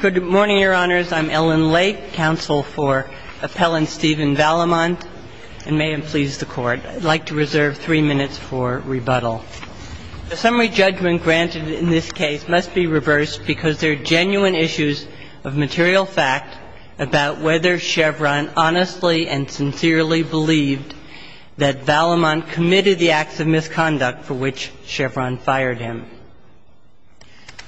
Good morning, Your Honors. I'm Ellen Lake, counsel for Appellant Stephen Vallimont, and may it please the Court, I'd like to reserve three minutes for rebuttal. The summary judgment granted in this case must be reversed because there are genuine issues of material fact about whether Chevron honestly and sincerely believed that Vallimont committed the acts of misconduct for which Chevron fired him.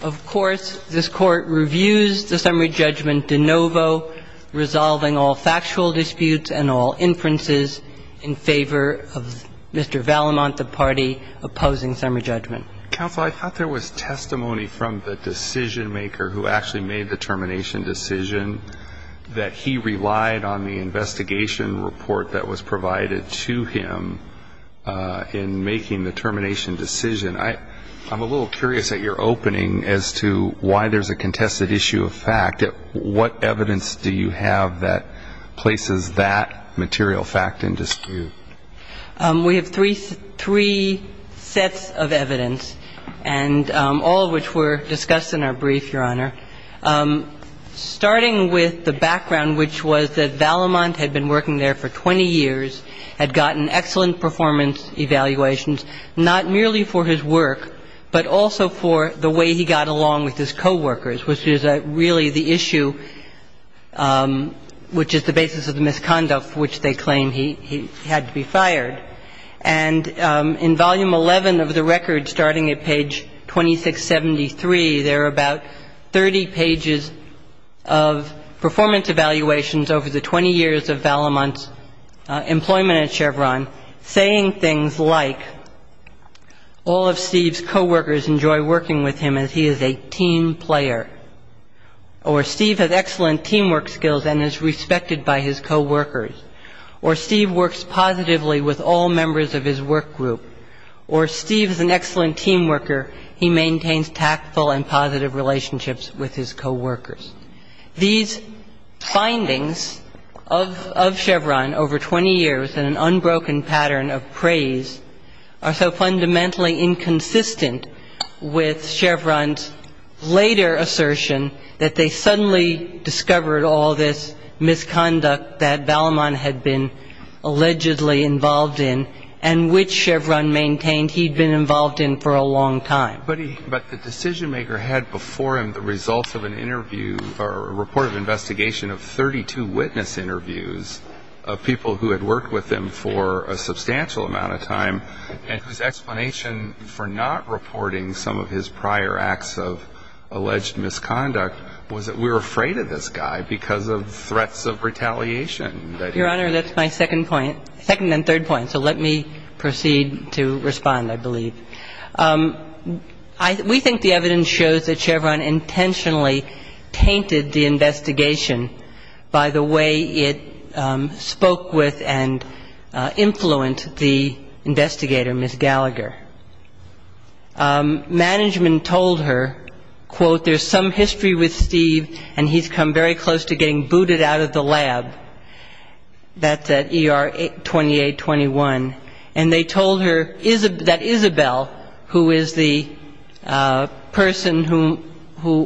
Of course, this Court reviews the summary judgment de novo, resolving all factual disputes and all inferences in favor of Mr. Vallimont, the party opposing summary judgment. Counsel, I thought there was testimony from the decision-maker who actually made the termination decision that he relied on the investigation report that was provided to him in making the termination decision. I'm a little curious at your opening as to why there's a contested issue of fact. What evidence do you have that places that material fact in dispute? We have three sets of evidence, and all of which were discussed in our brief, Your Honor. The first set of evidence is that Mr. Vallimont had been working there for 20 years, had gotten excellent performance evaluations, not merely for his work, but also for the way he got along with his coworkers, which is really the issue which is the basis of the misconduct for which they claim he had to be fired. And in volume 11 of the record, starting at page 2673, there are about 30 pages of performance evaluations over the 20 years of Vallimont's employment at Chevron, saying things like all of Steve's coworkers enjoy working with him as he is a team player, or Steve has excellent teamwork skills and is respected by his coworkers, or Steve works positively with all members of his work group, or Steve is an excellent team worker. He maintains tactful and positive relationships with his coworkers. These findings of Chevron over 20 years in an unbroken pattern of praise are so fundamentally inconsistent with Chevron's later assertion that they suddenly discovered all this misconduct that Vallimont had been allegedly involved in and which Chevron maintained he'd been involved in for a long time. But the decision-maker had before him the results of an interview or report of investigation of 32 witness interviews of people who had worked with him for a substantial amount of time and whose explanation for not reporting some of his prior acts of alleged misconduct was that we were afraid of this guy because of threats of retaliation. Your Honor, that's my second point. Second and third point, so let me proceed to respond, I believe. We think the evidence shows that Chevron intentionally tainted the investigation by the way it spoke with and influenced the investigator, Ms. Gallagher. Management told her, quote, there's some history with Steve and he's come very close to getting booted out of the lab, that's at ER 2821. And they told her that Isabel, who is the person who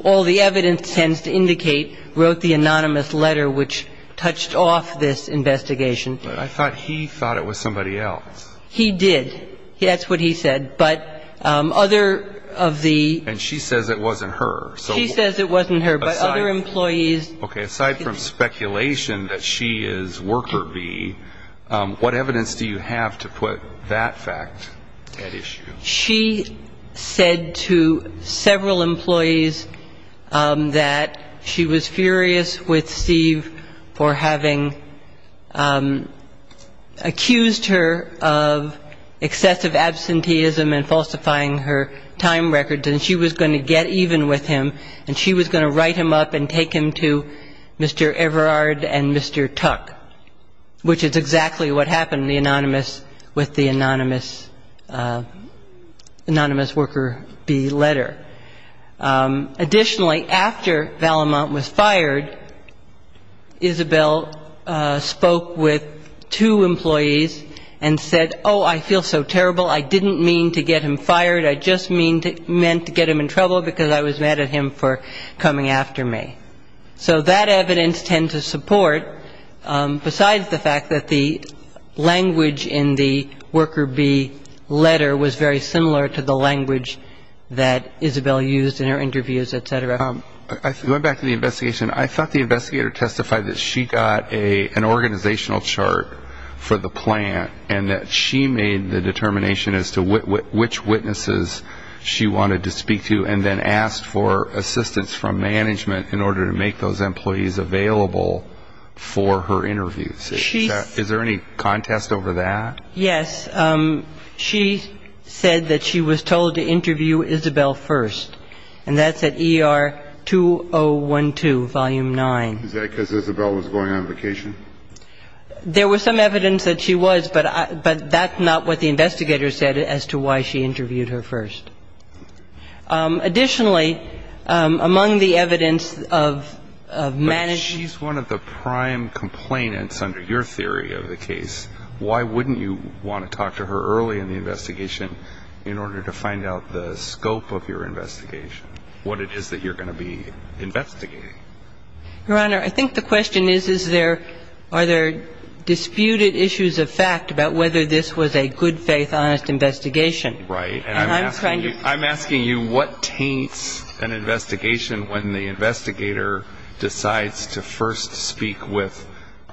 all the evidence tends to indicate, wrote the anonymous letter which touched off this investigation. But I thought he thought it was somebody else. He did. That's what he said. But other of the — And she says it wasn't her. She says it wasn't her, but other employees — Okay, aside from speculation that she is Worker B, what evidence do you have to put that fact at issue? She said to several employees that she was furious with Steve for having accused her of excessive absenteeism and falsifying her time records and she was going to get even with him and she was going to write him up and take him to Mr. Everard and Mr. Tuck, which is exactly what happened in the anonymous — with the anonymous — anonymous Worker B letter. Additionally, after Vallemont was fired, Isabel spoke with two employees and said, oh, I feel so terrible. I didn't mean to get him fired. I just meant to get him in trouble because I was mad at him for coming after me. So that evidence tends to support, besides the fact that the language in the Worker B letter was very similar to the language that Isabel used in her interviews, et cetera. Going back to the investigation, I thought the investigator testified that she got an organizational chart for the plant and that she made the determination as to which witnesses she wanted to speak to and then asked for assistance from management in order to make those employees available for her interviews. Is there any contest over that? Yes. She said that she was told to interview Isabel first, and that's at ER 2012, Volume 9. Is that because Isabel was going on vacation? There was some evidence that she was, but that's not what the investigator said as to why she interviewed her first. Additionally, among the evidence of management — But she's one of the prime complainants under your theory of the case. Why wouldn't you want to talk to her early in the investigation in order to find out the scope of your investigation, what it is that you're going to be investigating? Your Honor, I think the question is, is there — are there disputed issues of fact about whether this was a good-faith, honest investigation? Right. And I'm trying to — I'm asking you what taints an investigation when the investigator decides to first speak with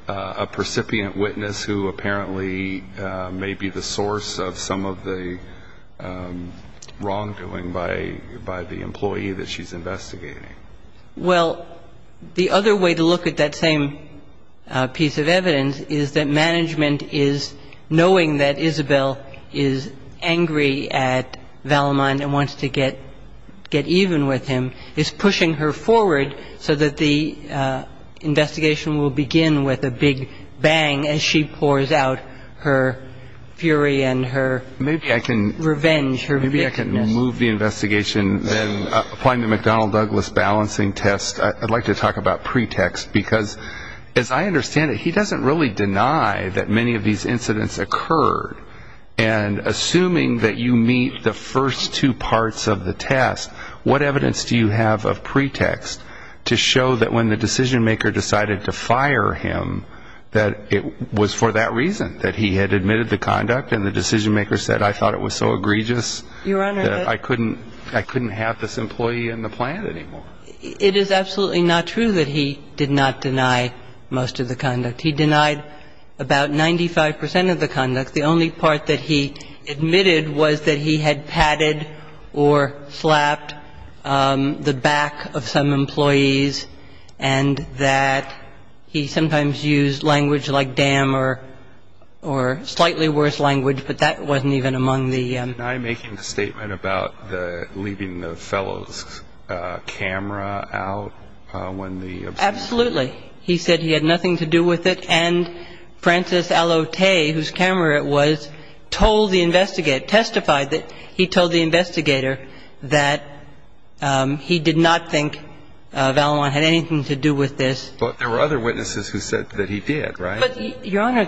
a precipient witness who apparently may be the source of some of the wrongdoing by the employee that she's investigating. Well, the other way to look at that same piece of evidence is that management is, knowing that Isabel is angry at Vallemont and wants to get even with him, is pushing her forward so that the investigation will begin with a big bang as she pours out her fury and her revenge, her wickedness. Before you move the investigation and applying the McDonnell-Douglas balancing test, I'd like to talk about pretext because, as I understand it, he doesn't really deny that many of these incidents occurred. And assuming that you meet the first two parts of the test, what evidence do you have of pretext to show that when the decision-maker decided to fire him, that it was for that reason, that he had admitted the conduct and the decision-maker said, I thought it was so egregious that I couldn't have this employee in the plant anymore? It is absolutely not true that he did not deny most of the conduct. He denied about 95 percent of the conduct. The only part that he admitted was that he had patted or slapped the back of some employees and that he sometimes used language like damn or slightly worse language, but that wasn't even among the. And I'm making a statement about the leaving the fellows camera out when the. Absolutely. He said he had nothing to do with it. And Francis Allotte, whose camera it was, told the investigate, testified that he told the investigator that he did not think Valois had anything to do with this. But there were other witnesses who said that he did. Right.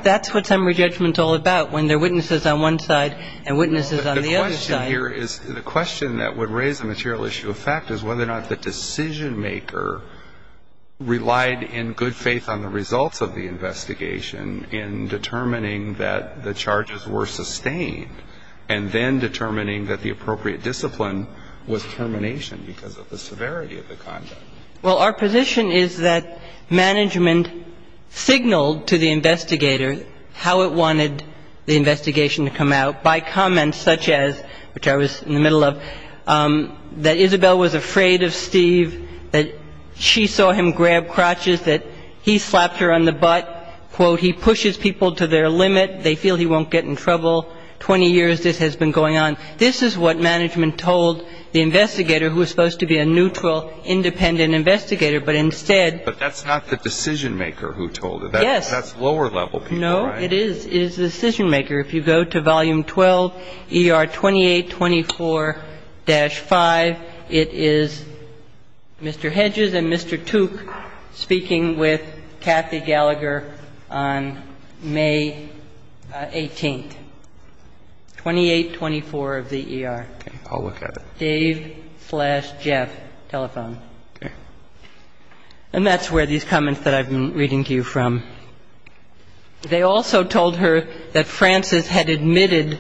That's what summary judgment is all about, when there are witnesses on one side and witnesses on the other side. The question here is, the question that would raise the material issue of fact is whether or not the decision-maker relied in good faith on the results of the investigation in determining that the charges were sustained and then determining that the appropriate discipline was termination because of the severity of the conduct. Well, our position is that management signaled to the investigator how it wanted the investigation to come out by comments such as, which I was in the middle of, that Isabel was afraid of Steve, that she saw him grab crotches, that he slapped her on the butt, quote, he pushes people to their limit. They feel he won't get in trouble. Twenty years this has been going on. This is what management told the investigator, who was supposed to be a neutral, independent investigator, but instead. But that's not the decision-maker who told it. Yes. That's lower-level people. No, it is. It is the decision-maker. If you go to Volume 12, ER 2824-5, it is Mr. Hedges and Mr. Tooke speaking with Kathy Gallagher on May 18th. And the information I have is that this was a phone call between Steve and her. It was a phone call between Steve and her. And the information I have is that this was a phone call between Steve and her. 2824 of the ER. Okay. I'll look at it. Dave slash Jeff telephone. Okay. And that's where these comments that I've been reading to you from. They also told her that Francis had admitted,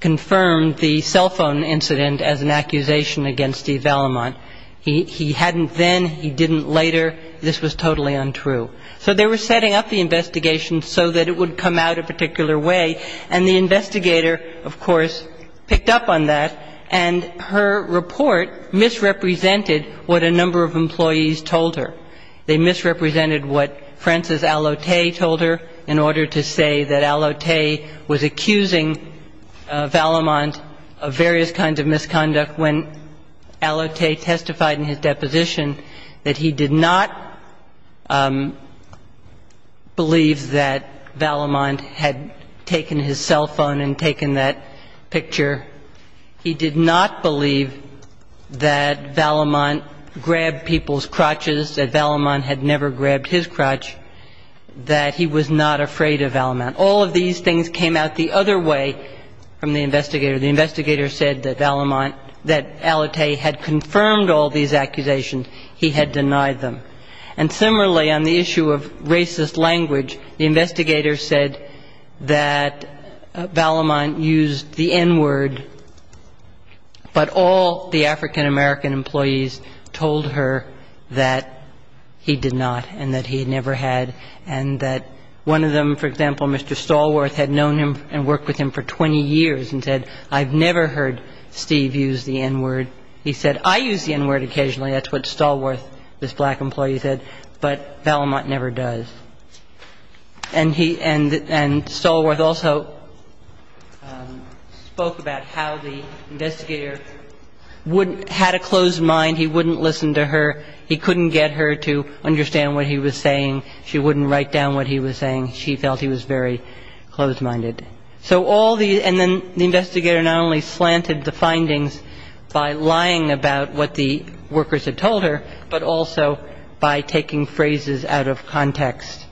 confirmed the cell phone incident as an accusation against Steve Vallemont. He hadn't then. He didn't later. This was totally untrue. So they were setting up the investigation so that it would come out a particular way. And the investigator, of course, picked up on that. And her report misrepresented what a number of employees told her. They misrepresented what Francis Allotte told her in order to say that Allotte was accusing Vallemont of various kinds of misconduct. When Allotte testified in his deposition that he did not believe that Vallemont had taken his cell phone and taken that picture, he did not believe that Vallemont grabbed people's crotches, that Vallemont had never grabbed his crotch, that he was not afraid of Vallemont. All of these things came out the other way from the investigator. The investigator said that Vallemont, that Allotte had confirmed all these accusations. He had denied them. And similarly, on the issue of racist language, the investigator said that Vallemont used the N-word, but all the African-American employees told her that he did not and that he had never had, and that one of them, for example, Mr. Stallworth, had known him and worked with him for 20 years and said, I've never heard Steve use the N-word. He said, I use the N-word occasionally. That's what Stallworth, this black employee, said. But Vallemont never does. And Stallworth also spoke about how the investigator had a closed mind. He wouldn't listen to her. He couldn't get her to understand what he was saying. She wouldn't write down what he was saying. She felt he was very closed-minded. So all the – and then the investigator not only slanted the findings by lying about what the workers had told her, but also by taking phrases out of context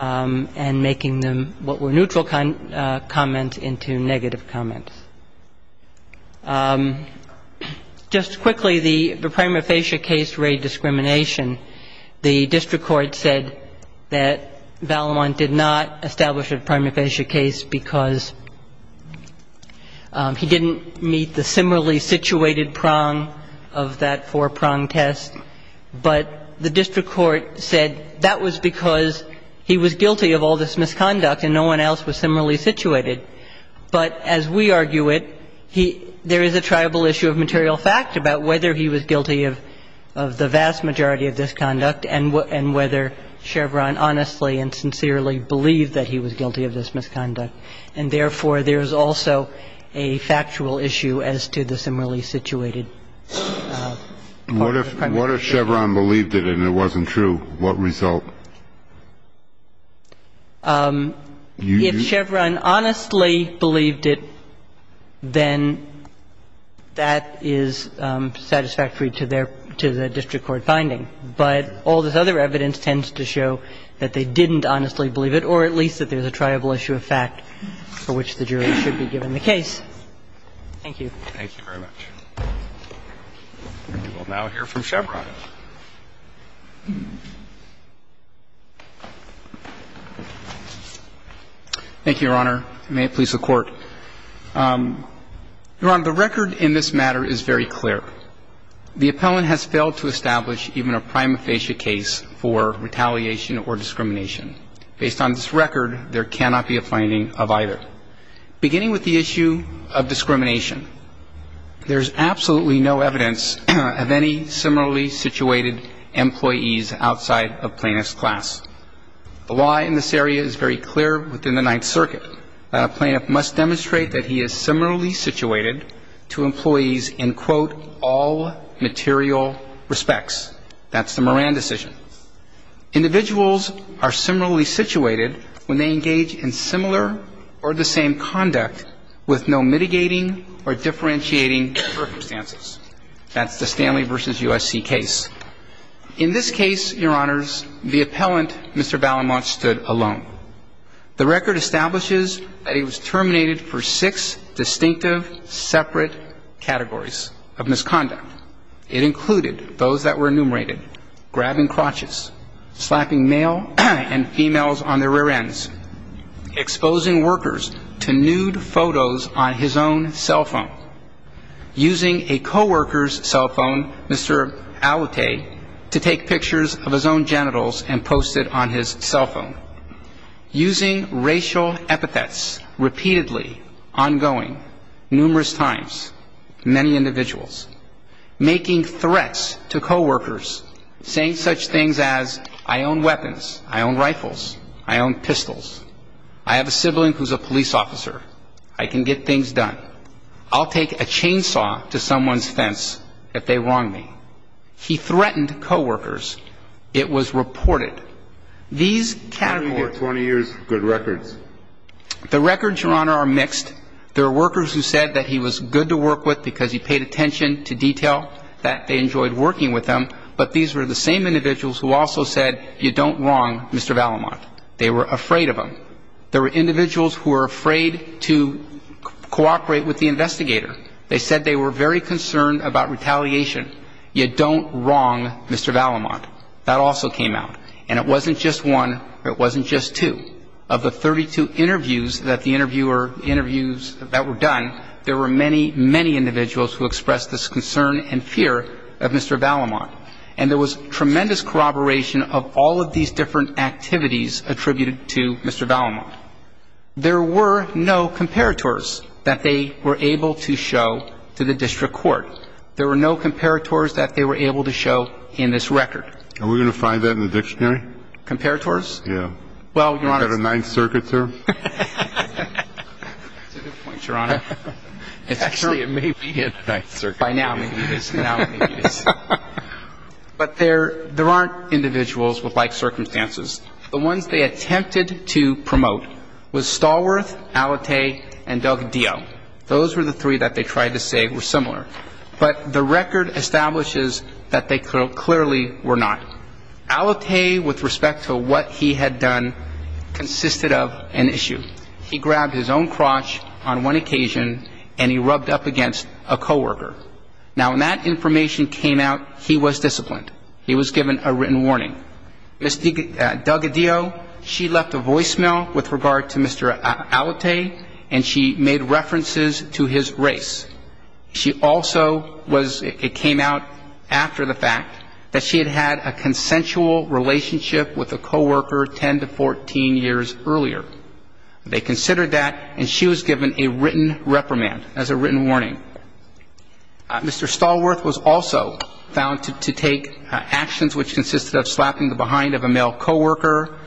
and making them what were neutral comments into negative comments. Just quickly, the prima facie case raid discrimination, the district court said that Vallemont did not establish a prima facie case because he didn't meet the similarly situated prong of that four-prong test. But the district court said that was because he was guilty of all this misconduct and no one else was similarly situated. But as we argue it, there is a tribal issue of material fact about whether he was guilty of the vast majority of this misconduct and whether Chevron honestly and sincerely believed that he was guilty of this misconduct. And therefore, there is also a factual issue as to the similarly situated part of the crime. What if Chevron believed it and it wasn't true? What result? If Chevron honestly believed it, then that is satisfactory to their – to the district court finding. But all this other evidence tends to show that they didn't honestly believe it, or at least that there's a tribal issue of fact for which the jury should be given the case. Thank you. Thank you very much. We will now hear from Chevron. Thank you, Your Honor. May it please the Court. Your Honor, the record in this matter is very clear. The appellant has failed to establish even a prima facie case for retaliation or discrimination. Based on this record, there cannot be a finding of either. Beginning with the issue of discrimination, there is absolutely no evidence of any similarly situated employees outside of plaintiff's class. The law in this area is very clear within the Ninth Circuit that a plaintiff must demonstrate that he is similarly situated to employees in, quote, all material respects. That's the Moran decision. Individuals are similarly situated when they engage in similar or the same conduct with no mitigating or differentiating circumstances. That's the Stanley v. USC case. In this case, Your Honors, the appellant, Mr. Ballamont, stood alone. The record establishes that he was terminated for six distinctive separate categories of misconduct. It included those that were enumerated, grabbing crotches, slapping male and females on their rear ends, exposing workers to nude photos on his own cell phone, using a co-worker's cell phone, Mr. Allete, to take pictures of his own genitals and post it on his cell phone, using racial epithets repeatedly, ongoing, numerous times, many individuals, making threats to co-workers, saying such things as, I own weapons, I own rifles, I own pistols, I have a sibling who's a police officer, I can get things done, I'll take a chainsaw to someone's fence if they wrong me. He threatened co-workers. It was reported. These categories of misconduct. Kennedy gave 20 years good records. The records, Your Honor, are mixed. There are workers who said that he was good to work with because he paid attention to detail, that they enjoyed working with him, but these were the same individuals who also said, you don't wrong Mr. Ballamont. They were afraid of him. There were individuals who were afraid to cooperate with the investigator. They said they were very concerned about retaliation. You don't wrong Mr. Ballamont. That also came out. And it wasn't just one, it wasn't just two. Of the 32 interviews that the interviewer, interviews that were done, there were many, many individuals who expressed this concern and fear of Mr. Ballamont. And there was tremendous corroboration of all of these different activities attributed to Mr. Ballamont. There were no comparators that they were able to show to the district court. There were no comparators that they were able to show in this record. Are we going to find that in the dictionary? Comparators? Yeah. Well, Your Honor. Is that a Ninth Circuit term? That's a good point, Your Honor. Actually, it may be a Ninth Circuit term. By now, maybe it is. By now, maybe it is. But there aren't individuals with like circumstances. The ones they attempted to promote was Stallworth, Alate, and Doug Dio. Those were the three that they tried to say were similar. But the record establishes that they clearly were not. Alate, with respect to what he had done, consisted of an issue. He grabbed his own crotch on one occasion, and he rubbed up against a coworker. Now, when that information came out, he was disciplined. He was given a written warning. Doug Dio, she left a voicemail with regard to Mr. Alate, and she made references to his race. She also was ñ it came out after the fact that she had had a consensual relationship with a coworker 10 to 14 years earlier. They considered that, and she was given a written reprimand as a written warning. Mr. Stallworth was also found to take actions which consisted of slapping the behind of a male coworker.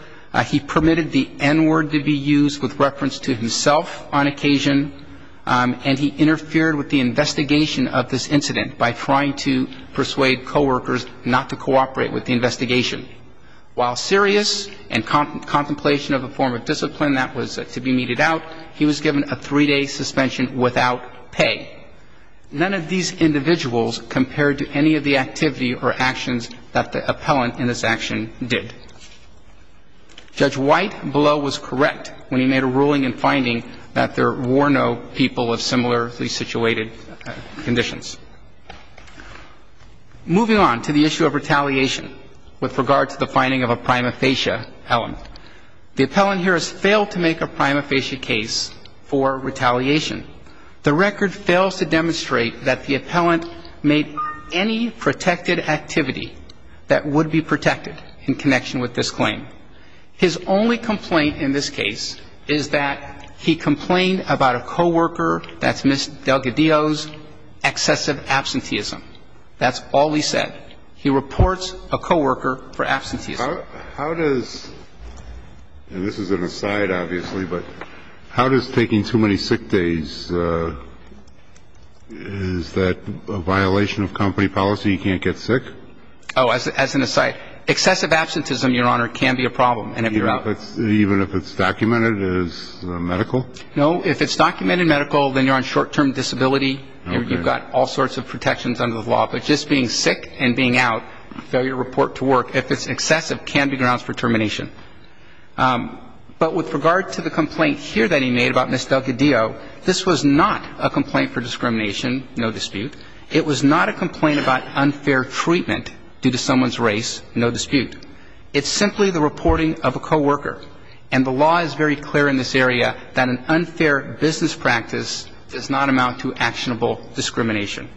He permitted the N-word to be used with reference to himself on occasion, and he interfered with the investigation of this incident by trying to persuade coworkers not to cooperate with the investigation. While serious and contemplation of a form of discipline, that was to be meted out, he was given a three-day suspension without pay. None of these individuals compared to any of the activity or actions that the appellant in this action did. Judge White below was correct when he made a ruling in finding that there were no people of similarly situated conditions. Moving on to the issue of retaliation with regard to the finding of a prima facie element. The appellant here has failed to make a prima facie case for retaliation. The record fails to demonstrate that the appellant made any protected activity that would be protected in connection with this claim. His only complaint in this case is that he complained about a coworker, that's Ms. Delgadillo's, excessive absenteeism. That's all he said. He reports a coworker for absenteeism. How does, and this is an aside obviously, but how does taking too many sick days, is that a violation of company policy? You can't get sick? Oh, as an aside, excessive absenteeism, Your Honor, can be a problem. Even if it's documented as medical? No, if it's documented medical, then you're on short-term disability. You've got all sorts of protections under the law. But just being sick and being out, failure to report to work, if it's excessive, can be grounds for termination. But with regard to the complaint here that he made about Ms. Delgadillo, this was not a complaint for discrimination, no dispute. It was not a complaint about unfair treatment due to someone's race, no dispute. It's simply the reporting of a coworker. And the law is very clear in this area that an unfair business practice does not amount to actionable discrimination.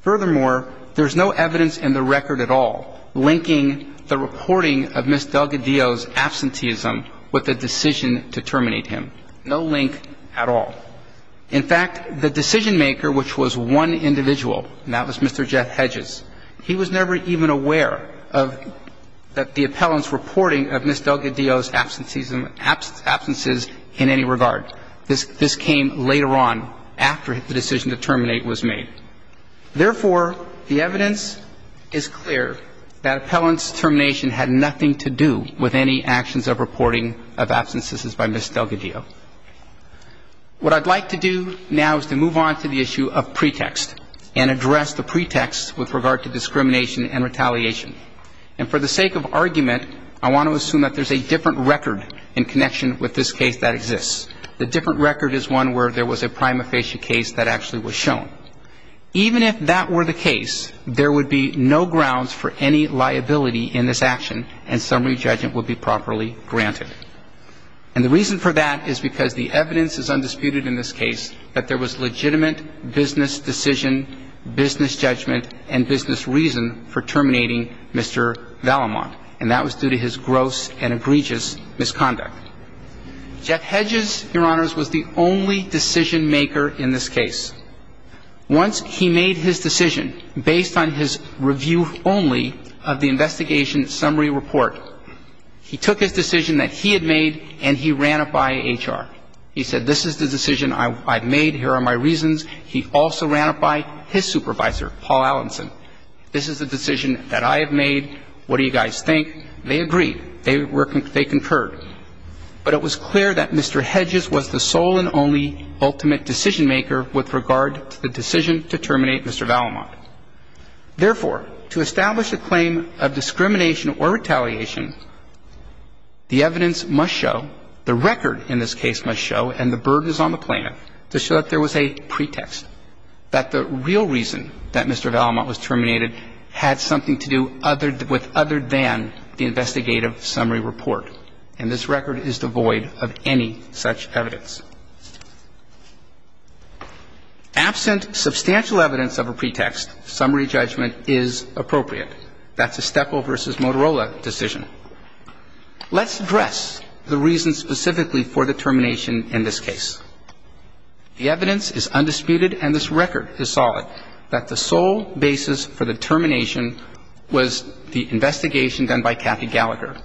Furthermore, there's no evidence in the record at all linking the reporting of Ms. Delgadillo's absenteeism with the decision to terminate him. No link at all. In fact, the decision-maker, which was one individual, and that was Mr. Jeff Hedges, he was never even aware of the appellant's reporting of Ms. Delgadillo's absenteeism, absences in any regard. This came later on after the decision to terminate was made. Therefore, the evidence is clear that appellant's termination had nothing to do with any actions of reporting of absences by Ms. Delgadillo. What I'd like to do now is to move on to the issue of pretext and address the pretext with regard to discrimination and retaliation. And for the sake of argument, I want to assume that there's a different record in connection with this case that exists. The different record is one where there was a prima facie case that actually was shown. Even if that were the case, there would be no grounds for any liability in this action, and summary judgment would be properly granted. And the reason for that is because the evidence is undisputed in this case that there was legitimate business decision, business judgment, and business reason for terminating Mr. Valamont, and that was due to his gross and egregious misconduct. Jeff Hedges, Your Honors, was the only decision-maker in this case. Once he made his decision, based on his review only of the investigation summary report, he took his decision that he had made and he ran it by HR. He said, this is the decision I've made, here are my reasons. He also ran it by his supervisor, Paul Allenson. This is the decision that I have made. What do you guys think? They agreed. They concurred. But it was clear that Mr. Hedges was the sole and only ultimate decision-maker with regard to the decision to terminate Mr. Valamont. Therefore, to establish a claim of discrimination or retaliation, the evidence must show, the record in this case must show, and the burden is on the plaintiff, to show that there was a pretext, that the real reason that Mr. Valamont was terminated had something to do with other than the investigative summary report. And this record is devoid of any such evidence. Absent substantial evidence of a pretext, summary judgment is appropriate. That's a Stepel v. Motorola decision. Let's address the reasons specifically for the termination in this case. The evidence is undisputed and this record is solid that the sole basis for the termination was the investigation done by Kathy Gallagher.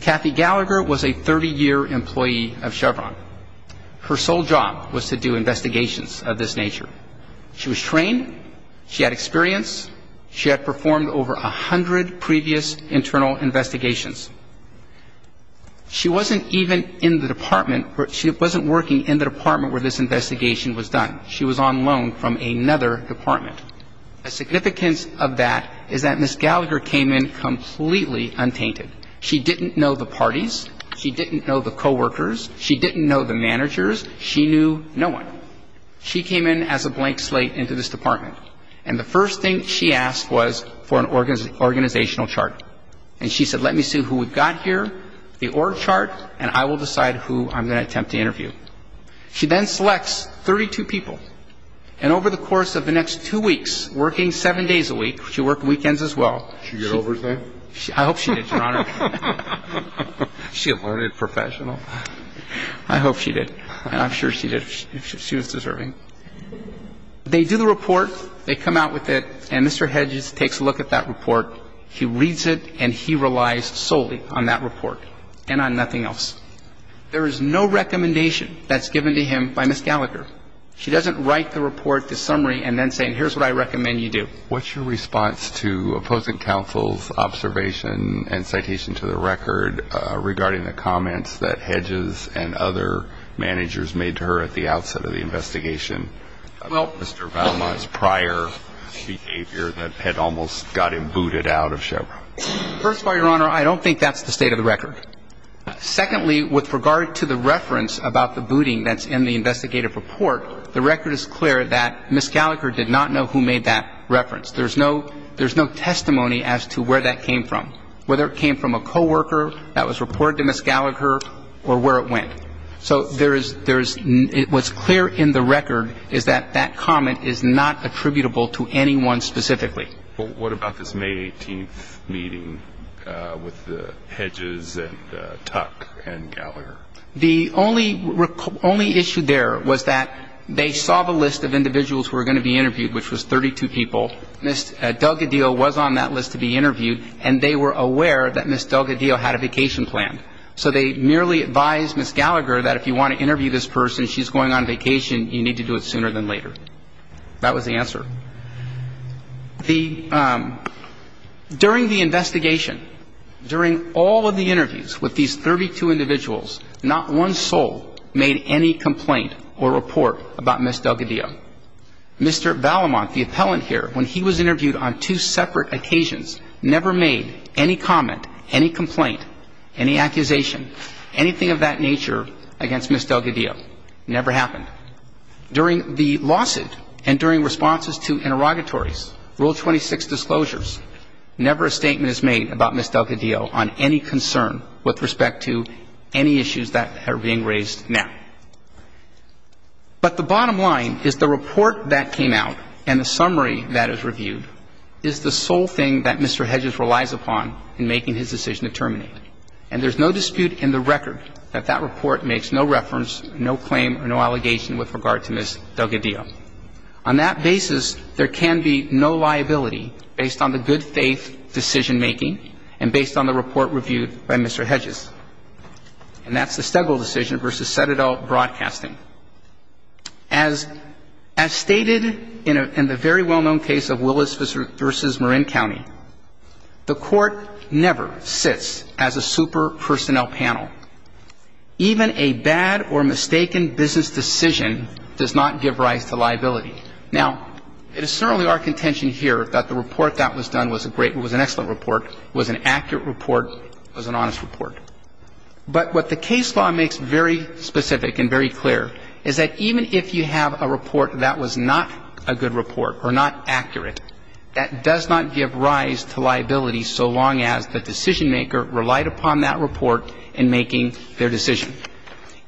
Kathy Gallagher was a 30-year employee of Chevron. Her sole job was to do investigations of this nature. She was trained. She had experience. She had performed over a hundred previous internal investigations. She wasn't even in the department where – she wasn't working in the department where this investigation was done. She was on loan from another department. The significance of that is that Ms. Gallagher came in completely untainted. She didn't know the parties. She didn't know the coworkers. She didn't know the managers. She knew no one. She came in as a blank slate into this department. And the first thing she asked was for an organizational chart. And she said, let me see who we've got here, the org chart, and I will decide who I'm going to attempt to interview. She then selects 32 people. And over the course of the next two weeks, working seven days a week, she worked weekends as well. Did she get over that? I hope she did, Your Honor. She a learned professional. I hope she did. And I'm sure she did. She was deserving. They do the report. They come out with it. And Mr. Hedges takes a look at that report. He reads it and he relies solely on that report and on nothing else. There is no recommendation that's given to him by Ms. Gallagher. She doesn't write the report, the summary, and then say, here's what I recommend you do. What's your response to opposing counsel's observation and citation to the record regarding the comments that Hedges and other managers made to her at the outset of the investigation about Mr. Valma's prior behavior that had almost got him booted out of Chevron? First of all, Your Honor, I don't think that's the state of the record. Secondly, with regard to the reference about the booting that's in the investigative report, the record is clear that Ms. Gallagher did not know who made that reference. There's no testimony as to where that came from, whether it came from a co-worker that was reported to Ms. Gallagher or where it went. So what's clear in the record is that that comment is not attributable to anyone specifically. What about this May 18th meeting with Hedges and Tuck and Gallagher? The only issue there was that they saw the list of individuals who were going to be interviewed, which was 32 people. Ms. Delgadillo was on that list to be interviewed, and they were aware that Ms. Delgadillo had a vacation planned. So they merely advised Ms. Gallagher that if you want to interview this person, she's going on vacation. You need to do it sooner than later. That was the answer. During the investigation, during all of the interviews with these 32 individuals, not one soul made any complaint or report about Ms. Delgadillo. Mr. Valamont, the appellant here, when he was interviewed on two separate occasions, never made any comment, any complaint, any accusation, anything of that nature against Ms. Delgadillo. Never happened. During the lawsuit and during responses to interrogatories, Rule 26 disclosures, never a statement is made about Ms. Delgadillo on any concern with respect to any issues that are being raised now. But the bottom line is the report that came out and the summary that is reviewed is the sole thing that Mr. Hedges relies upon in making his decision to terminate. And there is no dispute in the record that that report makes no reference, no claim, or no allegation with regard to Ms. Delgadillo. On that basis, there can be no liability based on the good faith decision-making and based on the report reviewed by Mr. Hedges. And that's the Stegel decision versus Sededal Broadcasting. As stated in the very well-known case of Willis v. Marin County, the Court never sits as a super personnel panel. Even a bad or mistaken business decision does not give rise to liability. Now, it is certainly our contention here that the report that was done was a great, was an excellent report, was an accurate report, was an honest report. But what the case law makes very specific and very clear is that even if you have a report that was not a good report or not accurate, that does not give rise to liability so long as the decision-maker relied upon that report in making their decision.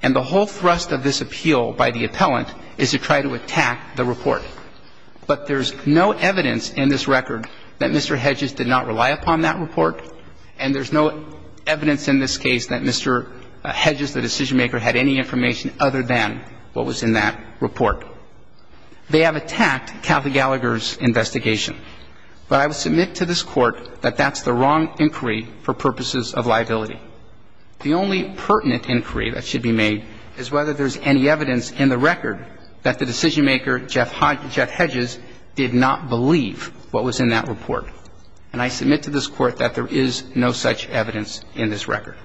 And the whole thrust of this appeal by the appellant is to try to attack the report. But there's no evidence in this record that Mr. Hedges did not rely upon that report, and there's no evidence in this case that Mr. Hedges, the decision-maker, had any information other than what was in that report. They have attacked Kathy Gallagher's investigation. But I would submit to this Court that that's the wrong inquiry for purposes of liability. The only pertinent inquiry that should be made is whether there's any evidence in the record that the decision-maker, Jeff Hedges, did not believe what was in that report. And I submit to this Court that there is no such evidence in this record.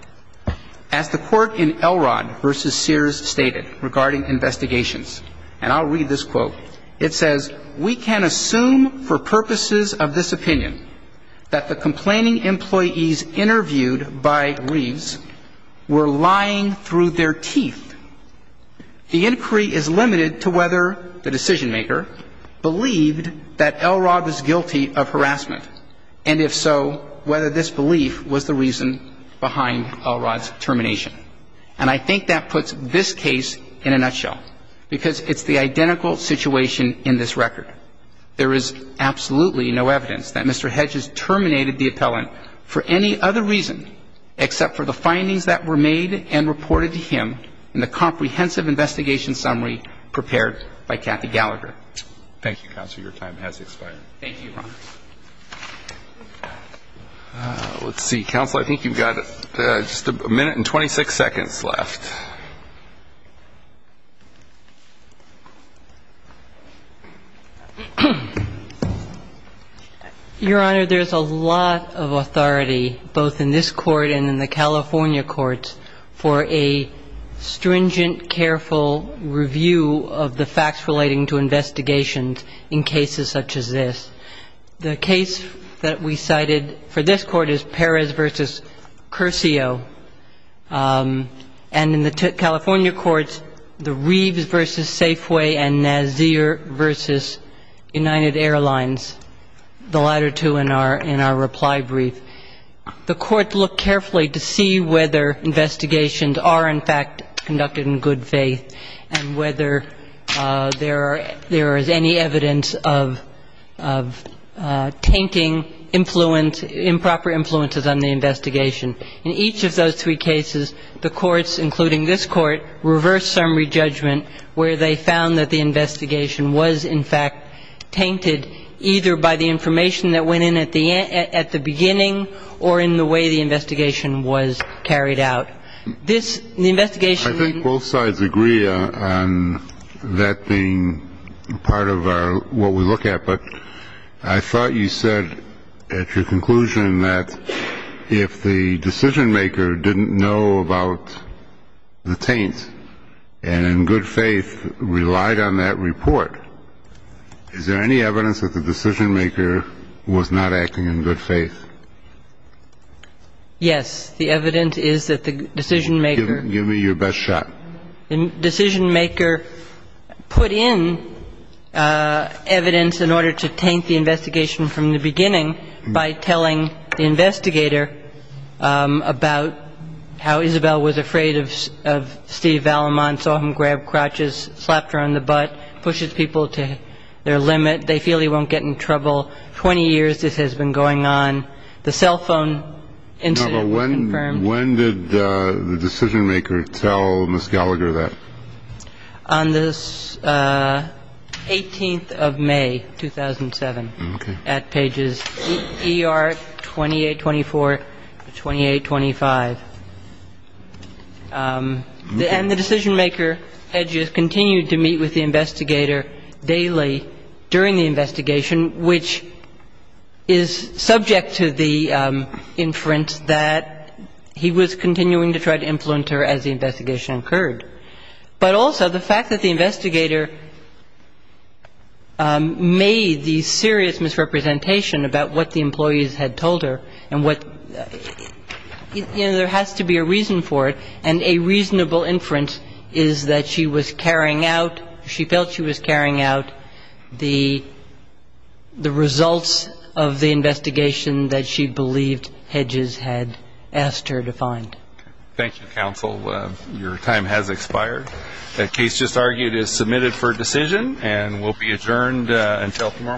As the Court in Elrod v. Sears stated regarding investigations, and I'll read this to you. And I think that puts this case in a nutshell, because it's the identical situation in this record. And I submit to this Court that there is absolutely no evidence that Mr. Hedges terminated the appellant for any other reason except for the findings that were made and reported to him in the comprehensive investigation summary prepared by Kathy Gallagher. Your time has expired. Thank you, Your Honor. Let's see. Counsel, I think you've got just a minute and 26 seconds left. Your Honor, there's a lot of authority, both in this Court and in the California courts, for a stringent, careful review of the facts relating to investigations in cases such as this. The case that we cited for this Court is Perez v. Curcio. And in the California courts, the Reeves v. Safeway and Nazir v. United Airlines, the latter two in our reply brief. The Court looked carefully to see whether investigations are, in fact, conducted in good faith and whether there is any evidence of tainting improper influences on the investigation. In each of those three cases, the courts, including this Court, reversed summary judgment where they found that the investigation was, in fact, tainted either by the information that went in at the beginning or in the way the investigation was carried out. This, the investigation... I think both sides agree on that being part of what we look at. But I thought you said at your conclusion that if the decision-maker didn't know about the taints and in good faith relied on that report, is there any evidence that the decision-maker was not acting in good faith? Yes. The evidence is that the decision-maker... Give me your best shot. The decision-maker put in evidence in order to taint the investigation from the beginning by telling the investigator about how Isabel was afraid of Steve Vallemont, saw him grab crotches, slapped her on the butt, pushes people to their limit, they feel he won't get in trouble. Twenty years this has been going on. The cell phone incident was confirmed. When did the decision-maker tell Ms. Gallagher that? On the 18th of May, 2007, at pages ER 2824 to 2825. And the decision-maker had just continued to meet with the investigator daily during the investigation, which is subject to the inference that he was continuing to try to influence her as the investigation occurred. But also the fact that the investigator made the serious misrepresentation about what the employees had told her and what, you know, there has to be a reason for it, and a reasonable inference is that she was carrying out, she felt she was carrying out the results of the investigation that she believed Hedges had asked her to find. Thank you, counsel. Your time has expired. The case just argued is submitted for decision and will be adjourned until tomorrow morning.